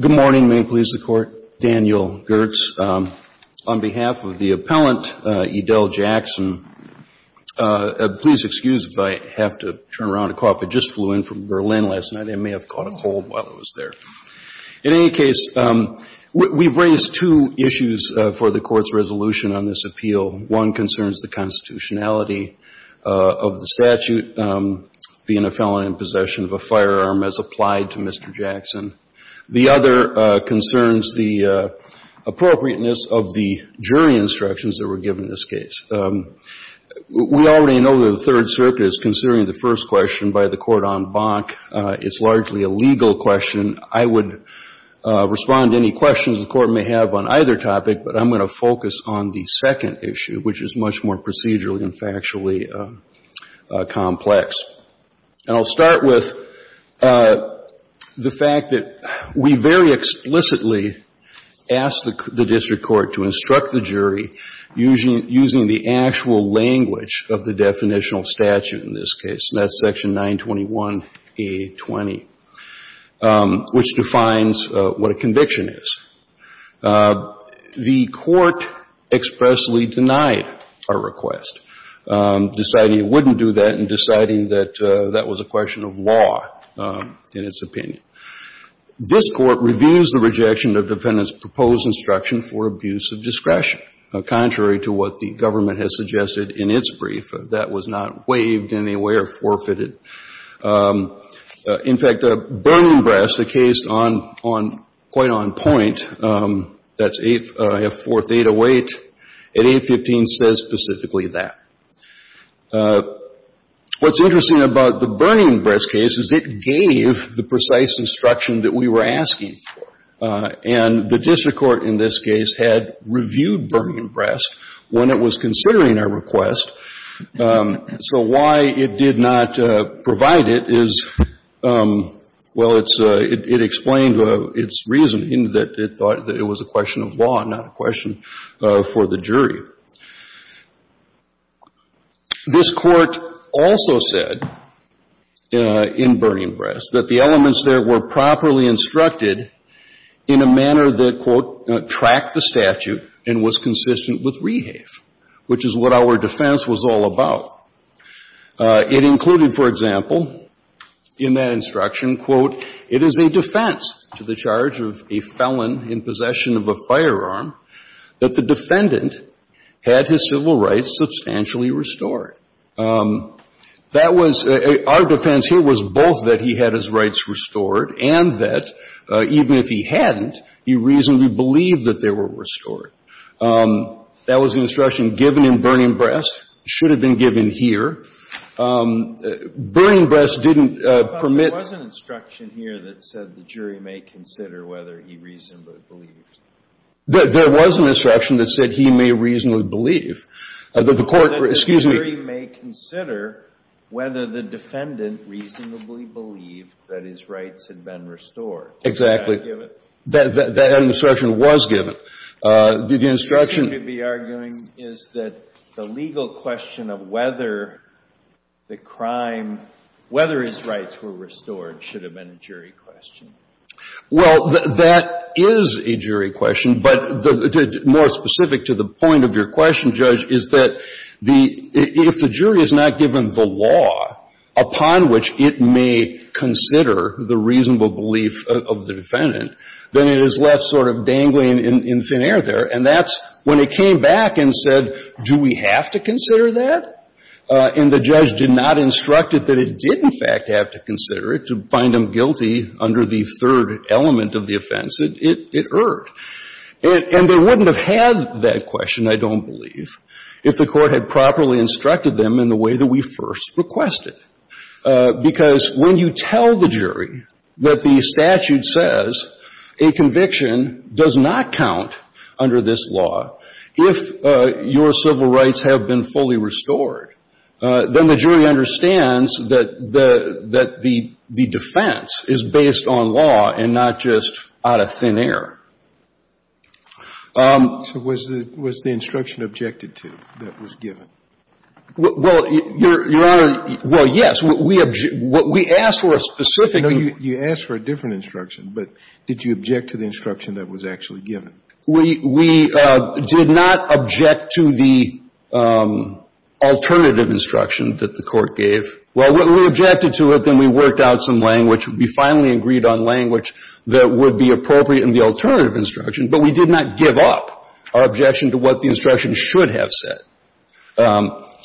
Good morning, may it please the Court. Daniel Gertz. On behalf of the appellant, Edell Jackson, please excuse if I have to turn around a cop. I just flew in from Berlin last night. I may have caught a cold while I was there. In any case, we've raised two issues for the Court's resolution on this appeal. One concerns the constitutionality of the statute, being a felon in possession of a firearm as applied to Mr. Jackson. The other concerns the appropriateness of the jury instructions that were given in this case. We already know that the Third Circuit is considering the first question by the court on Bonk. It's largely a legal question. I would respond to any questions the Court may have on either topic, but I'm going to focus on the second issue, which is much more procedural and factually complex. And I'll start with the fact that we very explicitly asked the district court to instruct the jury using the actual language of the definitional statute in this case, and that's section 921A20, which defines what a conviction is. The court expressly denied our request, deciding it wouldn't do that and deciding that that was a question of law in its opinion. This Court reviews the rejection of defendant's proposed instruction for abuse of discretion, contrary to what the government has suggested in its brief. That was not waived in any way or forfeited. In fact, a burning breast, a case on quite on point, that's 8th Fourth 808, at 815, says specifically that. What's interesting about the burning instruction that we were asking for, and the district court in this case had reviewed burning breast when it was considering our request. So why it did not provide it is, well, it's — it explained its reasoning, that it thought that it was a question of law, not a question for the jury. This Court also said in burning breast that the elements there were properly instructed in a manner that, quote, tracked the statute and was consistent with rehave, which is what our defense was all about. It included, for example, in that instruction, quote, it is a defense to the charge of a felon in possession of a firearm that the defendant had his civil rights substantially restored. That was — our defense here was both that he had his rights restored and that even if he hadn't, he reasonably believed that they were restored. That was the instruction given in burning breast. It should have been given here. Burning breast didn't permit — But there was an instruction here that said the jury may consider whether he reasonably believed. There was an instruction that said he may reasonably believe. The Court — excuse me. That the jury may consider whether the defendant reasonably believed that his rights had been restored. Exactly. Did that give it? That instruction was given. The instruction — You seem to be arguing is that the legal question of whether the crime — whether his rights were restored should have been a jury question. Well, that is a jury question. But more specific to the point of your question, Judge, is that the — if the jury is not given the law upon which it may consider the reasonable belief of the defendant, then it is left sort of dangling in thin air there. And that's — when it came back and said, do we have to consider that? And the judge did not instruct it that it did, in fact, have to consider it to find him guilty under the third element of the offense, it erred. And they wouldn't have had that question, I don't believe, if the Court had properly instructed them in the way that we first requested. Because when you tell the jury that the statute says a conviction does not count under this law, if your civil rights have been fully restored, then the jury understands that the — that the defense is based on law and not just out of thin air. So was the — was the instruction objected to that was given? Well, Your Honor, well, yes. We — we asked for a specific — No, you asked for a different instruction. But did you object to the instruction that was actually given? We — we did not object to the alternative instruction that the Court gave. Well, we objected to it, then we worked out some language. We finally agreed on language that would be appropriate in the alternative instruction. But we did not give up our objection to what the instruction should have said.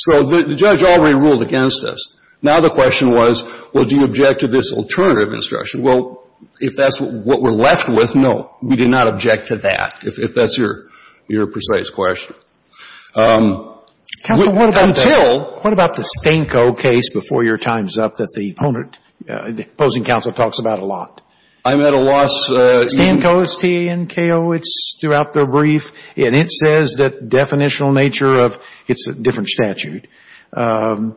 So the judge already ruled against us. Now the question was, well, do you object to this alternative instruction? Well, if that's what we're left with, no, we did not object to that, if that's your — your precise question. Counsel, what about — Until — What about the Stanko case before your time's up that the opponent — the opposing counsel talks about a lot? I'm at a loss — Stanko, it's T-A-N-K-O, it's throughout their brief. And it says that the definitional nature of — it's a different statute — about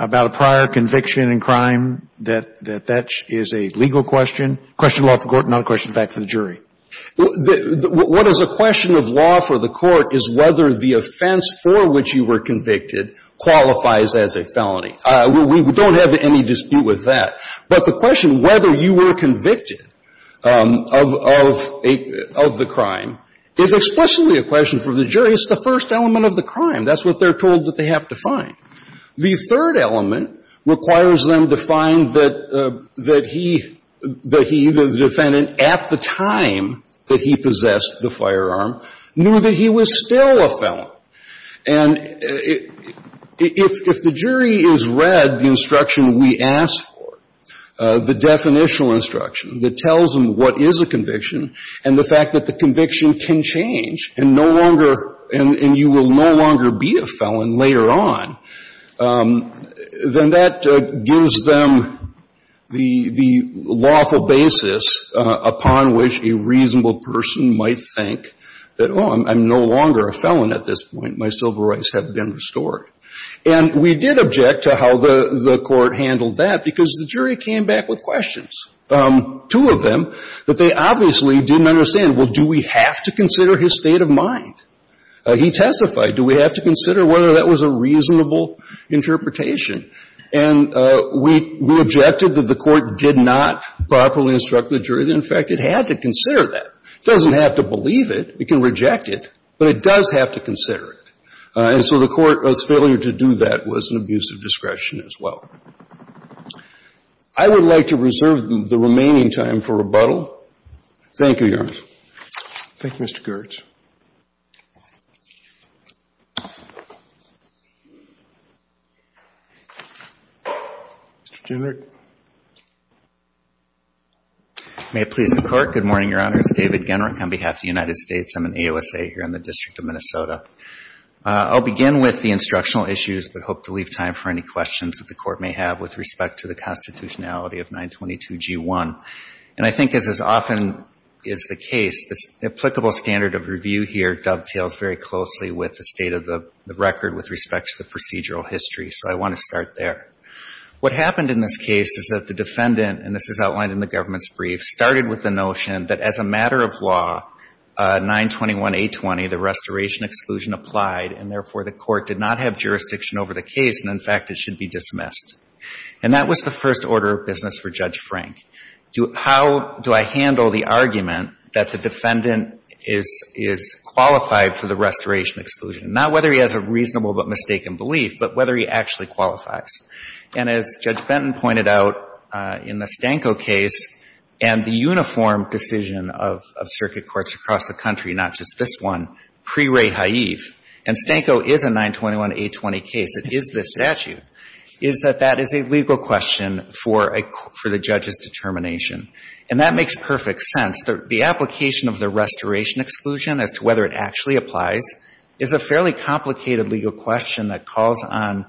a prior conviction in crime, that — that that is a legal question, What is a question of law for the court is whether the offense for which you were convicted qualifies as a felony. We don't have any dispute with that. But the question whether you were convicted of — of the crime is explicitly a question for the jury. It's the first element of the crime. That's what they're told that they have to find. The third element requires them to find that — that he — that he, the defendant, at the time that he possessed the firearm, knew that he was still a felon. And if — if the jury is read the instruction we ask for, the definitional instruction that tells them what is a conviction and the fact that the conviction can change and no longer — and — and you will no longer be a felon later on, then that gives them the — the lawful basis upon which a reasonable person might think that, oh, I'm no longer a felon at this point. My civil rights have been restored. And we did object to how the — the court handled that because the jury came back with questions, two of them, that they obviously didn't understand. Well, do we have to consider his state of mind? He testified. Do we have to consider whether that was a reasonable interpretation? And we — we objected that the court did not properly instruct the jury that, in fact, it had to consider that. It doesn't have to believe it. It can reject it. But it does have to consider it. And so the court's failure to do that was an abuse of discretion as well. Thank you, Your Honor. Thank you, Mr. Girtz. Mr. Genrich. May it please the Court. Good morning, Your Honors. David Genrich on behalf of the United States. I'm an AOSA here in the District of Minnesota. I'll begin with the instructional issues but hope to leave time for any questions that the Court may have with respect to the constitutionality of 922G1. And I think, as often is the case, this applicable standard of review here dovetails very closely with the state of the record with respect to the procedural history. So I want to start there. What happened in this case is that the defendant — and this is outlined in the government's brief — started with the notion that, as a matter of law, 921A20, the restoration exclusion, applied and, therefore, the court did not have jurisdiction over the case. And, in fact, it should be dismissed. And that was the first order of business for Judge Frank. How do I handle the argument that the defendant is qualified for the restoration exclusion? Not whether he has a reasonable but mistaken belief, but whether he actually qualifies. And as Judge Benton pointed out in the Stanko case and the uniform decision of circuit courts across the country, not just this one, pre-Ray Haive — and Stanko is a 921A20 case, it is a statute — is that that is a legal question for the judge's determination. And that makes perfect sense. The application of the restoration exclusion as to whether it actually applies is a fairly complicated legal question that calls on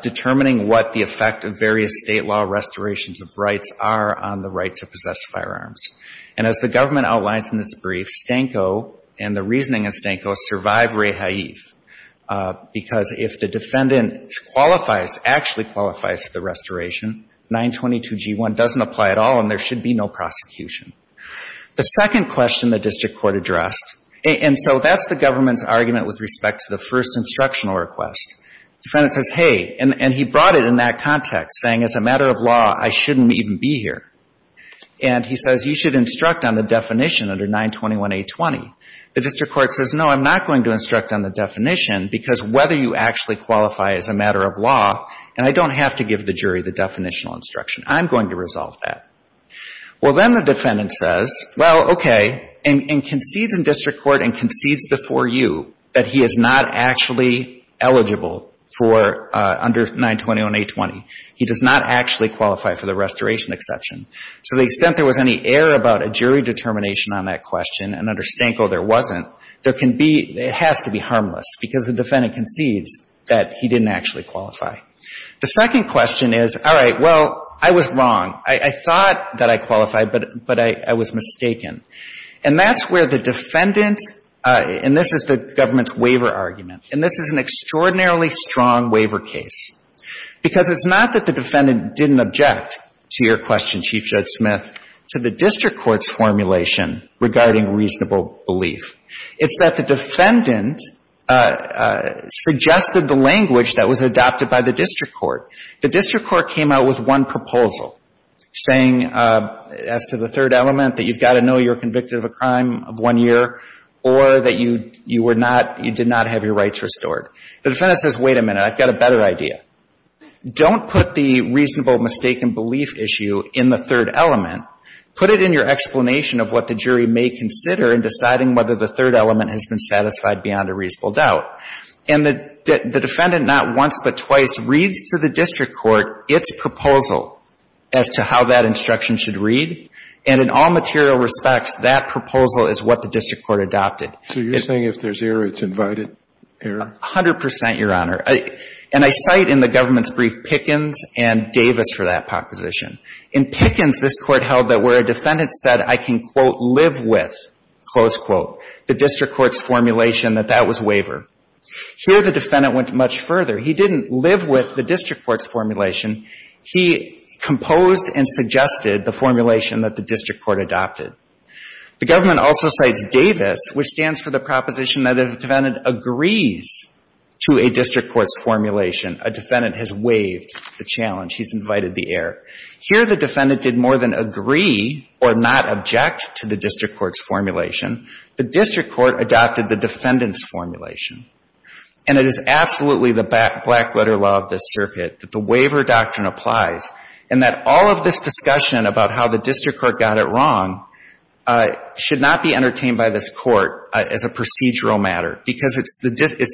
determining what the effect of various state law restorations of rights are on the right to possess firearms. And as the government outlines in its brief, Stanko and the reasoning in Stanko survive pre-Ray Haive, because if the defendant qualifies, actually qualifies for the restoration, 922G1 doesn't apply at all, and there should be no prosecution. The second question the district court addressed — and so that's the government's argument with respect to the first instructional request. Defendant says, hey — and he brought it in that context, saying, as a matter of law, I shouldn't even be here. And he says, you should instruct on the definition under 921A20. The district court says, no, I'm not going to instruct on the definition because whether you actually qualify is a matter of law, and I don't have to give the jury the definitional instruction. I'm going to resolve that. Well, then the defendant says, well, okay, and concedes in district court and concedes before you that he is not actually eligible for — under 921A20. He does not actually qualify for the restoration exception. To the extent there was any error about a jury determination on that question, and under Stanko there wasn't, there can be — it has to be harmless because the defendant concedes that he didn't actually qualify. The second question is, all right, well, I was wrong. I thought that I qualified, but I was mistaken. And that's where the defendant — and this is the government's waiver argument, and this is an extraordinarily strong waiver case, because it's not that the defendant didn't object to your question, Chief Judge Smith, to the district court's formulation regarding reasonable belief. It's that the defendant suggested the language that was adopted by the district court. The district court came out with one proposal saying, as to the third element, that you've got to know you're convicted of a crime of one year or that you were not — you did not have your rights restored. The defendant says, wait a minute. I've got a better idea. Don't put the reasonable mistaken belief issue in the third element. Put it in your explanation of what the jury may consider in deciding whether the third element has been satisfied beyond a reasonable doubt. And the defendant not once but twice reads to the district court its proposal as to how that instruction should read, and in all material respects, that proposal is what the district court adopted. So you're saying if there's error, it's invited error? A hundred percent, Your Honor. And I cite in the government's brief Pickens and Davis for that proposition. In Pickens, this Court held that where a defendant said, I can, quote, live with, close quote, the district court's formulation, that that was waiver. Here, the defendant went much further. He didn't live with the district court's formulation. He composed and suggested the formulation that the district court adopted. The government also cites Davis, which stands for the proposition that if a defendant agrees to a district court's formulation, a defendant has waived the challenge. He's invited the error. Here, the defendant did more than agree or not object to the district court's formulation. The district court adopted the defendant's formulation. And it is absolutely the black-letter law of this circuit that the waiver doctrine applies, and that all of this discussion about how the district court got it wrong should not be entertained by this Court as a procedural matter, because it's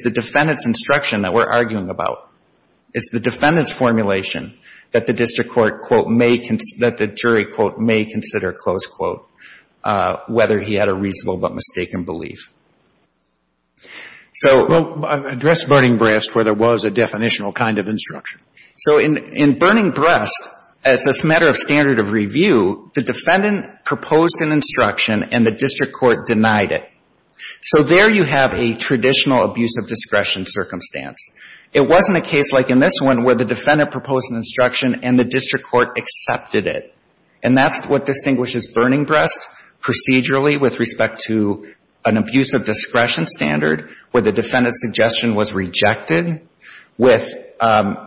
the defendant's instruction that we're arguing about. It's the defendant's formulation that the district court, quote, may consider, that the jury, quote, may consider, close quote, whether he had a reasonable but mistaken belief. So address Burning Breast, where there was a definitional kind of instruction. So in Burning Breast, as a matter of standard of review, the defendant proposed an instruction, and the district court denied it. So there you have a traditional abuse of discretion circumstance. It wasn't a case like in this one where the defendant proposed an instruction and the district court accepted it. And that's what distinguishes Burning Breast procedurally with respect to an abuse of discretion standard, where the defendant's suggestion was rejected with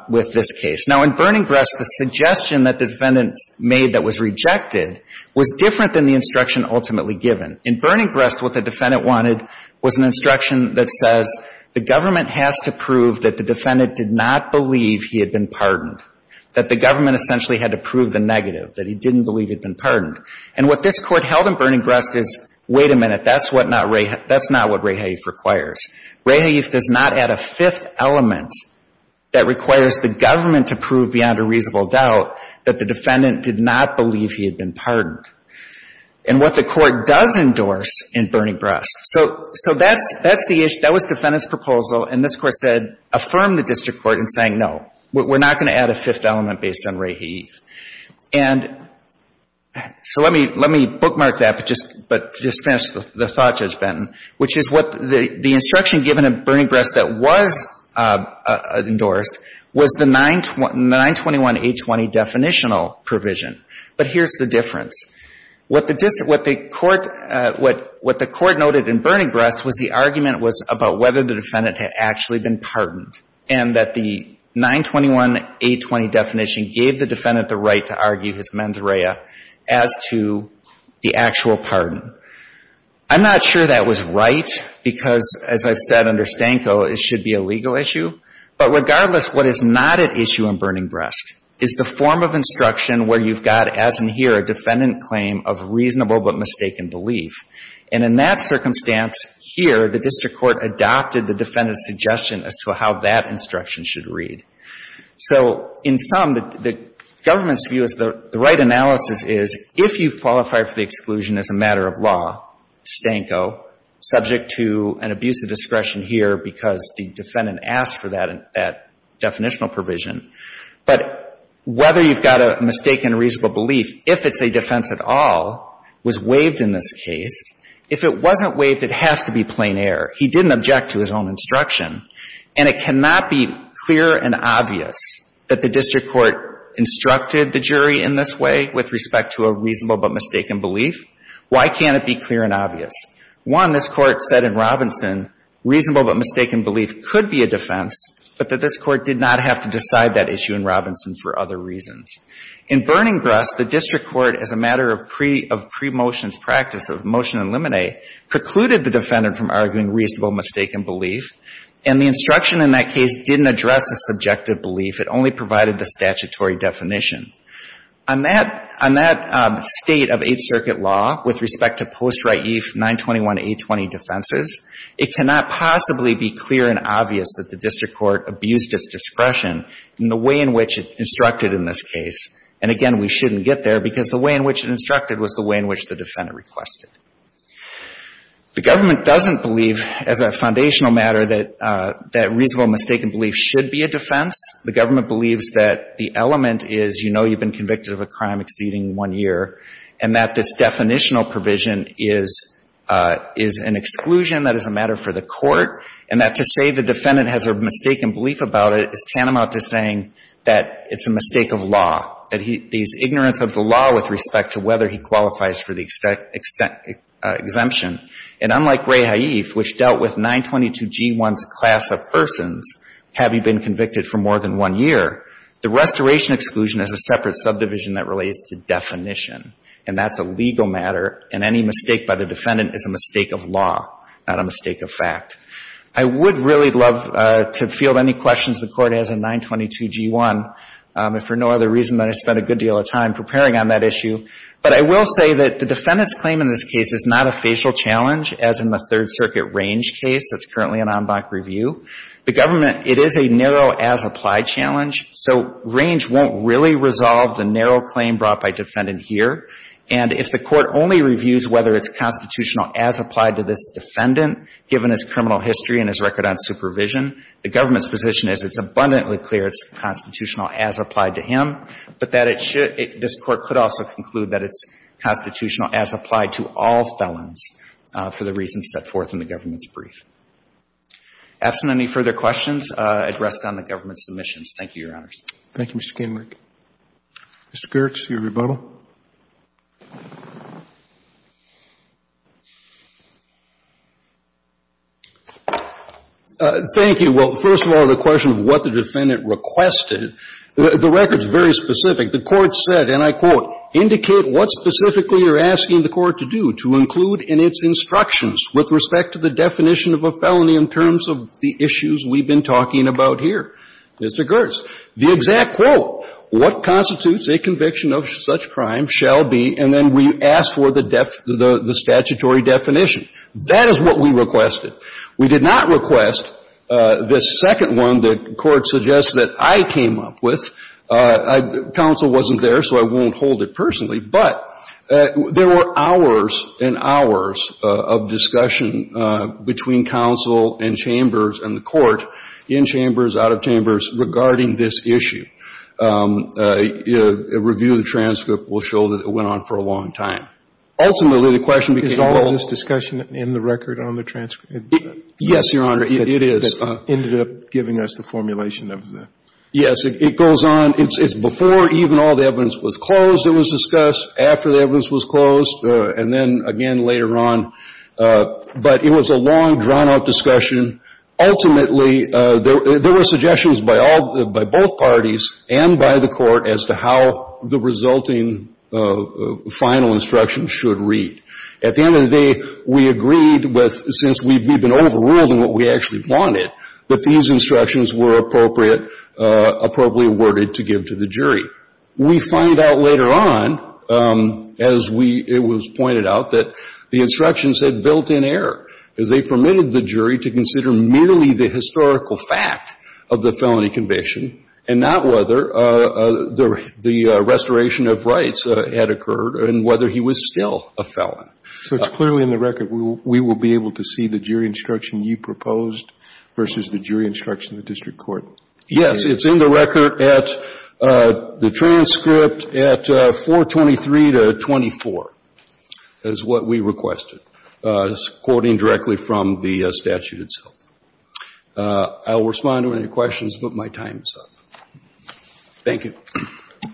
this case. Now, in Burning Breast, the suggestion that the defendant made that was rejected was different than the instruction ultimately given. In Burning Breast, what the defendant wanted was an instruction that says the government has to prove that the defendant did not believe he had been pardoned. That the government essentially had to prove the negative, that he didn't believe he'd been pardoned. And what this Court held in Burning Breast is, wait a minute, that's what not Ray Hayeaf, that's not what Ray Hayeaf requires. Ray Hayeaf does not add a fifth element that requires the government to prove beyond a reasonable doubt that the defendant did not believe he had been pardoned. And what the Court does endorse in Burning Breast, so that's the issue. That was defendant's proposal, and this Court said, affirm the district court in saying, no, we're not going to add a fifth element based on Ray Hayeaf. And so let me bookmark that, but just finish the thought, Judge Benton, which is what the instruction given in Burning Breast that was endorsed was the 921A20 definitional provision. But here's the difference. What the court noted in Burning Breast was the argument was about whether the defendant had actually been pardoned, and that the 921A20 definition gave the defendant the right to argue his mens rea as to the actual pardon. I'm not sure that was right, because as I've said under Stanko, it should be a legal issue. But regardless, what is not at issue in Burning Breast is the form of instruction where you've got, as in here, a defendant claim of reasonable but mistaken belief. And in that circumstance here, the district court adopted the defendant's suggestion as to how that instruction should read. So in sum, the government's view is the right analysis is if you qualify for the exclusion as a matter of law, Stanko, subject to an abuse of discretion here because the defendant asked for that definitional provision. But whether you've got a mistaken reasonable belief, if it's a defense at all, was waived in this case. If it wasn't waived, it has to be plain error. He didn't object to his own instruction. And it cannot be clear and obvious that the district court instructed the jury in this way with respect to a reasonable but mistaken belief. Why can't it be clear and obvious? One, this Court said in Robinson, reasonable but mistaken belief could be a defense, but that this Court did not have to decide that issue in Robinson for other reasons. In Burning Breast, the district court, as a matter of premotion's practice of motion and limine, precluded the defendant from arguing reasonable mistaken belief. And the instruction in that case didn't address a subjective belief. It only provided the statutory definition. On that state of Eighth Circuit law with respect to post-raife 921A20 defenses, it cannot possibly be clear and obvious that the district court abused its discretion in the way in which it instructed in this case. And, again, we shouldn't get there, because the way in which it instructed was the way in which the defendant requested. The government doesn't believe, as a foundational matter, that reasonable mistaken belief should be a defense. The government believes that the element is you know you've been convicted of a crime exceeding one year, and that this definitional provision is an exclusion that is a matter for the Court, and that to say the defendant has a mistaken belief about it is tantamount to saying that it's a mistake of law, that these ignorance of the law with respect to whether he qualifies for the exemption. And unlike Ray Haif, which dealt with 922G1's class of persons, have you been convicted for more than one year, the restoration exclusion is a separate subdivision that relates to definition. And that's a legal matter. And any mistake by the defendant is a mistake of law, not a mistake of fact. I would really love to field any questions the Court has on 922G1, if for no other reason than I spent a good deal of time preparing on that issue. But I will say that the defendant's claim in this case is not a facial challenge, as in the Third Circuit Range case that's currently in en banc review. The government, it is a narrow as-applied challenge. So Range won't really resolve the narrow claim brought by defendant here. And if the Court only reviews whether it's constitutional as-applied to this defendant, given his criminal history and his record on supervision, the government's position is it's abundantly clear it's constitutional as-applied to him, but that it should — this Court could also conclude that it's constitutional as-applied to all felons for the reasons set forth in the government's brief. Absent any further questions addressed on the government's submissions, thank you, Your Honors. Thank you, Mr. Kenwick. Mr. Girtz, your rebuttal. Thank you. Well, first of all, the question of what the defendant requested, the record's very specific. The Court said, and I quote, "...indicate what specifically you're asking the Court to do, to include in its instructions with respect to the definition of a felony in terms of the issues we've been talking about here." Mr. Girtz, the exact quote, "...what constitutes a conviction of such crime shall be..." And then we asked for the statutory definition. That is what we requested. We did not request this second one that the Court suggests that I came up with. Counsel wasn't there, so I won't hold it personally. But there were hours and hours of discussion between counsel and chambers and the regarding this issue. A review of the transcript will show that it went on for a long time. Ultimately, the question became... Is all of this discussion in the record on the transcript? Yes, Your Honor, it is. That ended up giving us the formulation of the... Yes, it goes on. It's before even all the evidence was closed that was discussed, after the evidence was closed, and then again later on. But it was a long, drawn-out discussion. Ultimately, there were suggestions by both parties and by the Court as to how the resulting final instruction should read. At the end of the day, we agreed with, since we'd been overruled in what we actually wanted, that these instructions were appropriate, appropriately worded to give to the jury. We find out later on, as it was pointed out, that the instructions had built-in as they permitted the jury to consider merely the historical fact of the felony conviction and not whether the restoration of rights had occurred and whether he was still a felon. So it's clearly in the record. We will be able to see the jury instruction you proposed versus the jury instruction of the district court. Yes. It's in the record at the transcript at 423 to 24, is what we requested. It's quoting directly from the statute itself. I will respond to any questions, but my time is up. Thank you.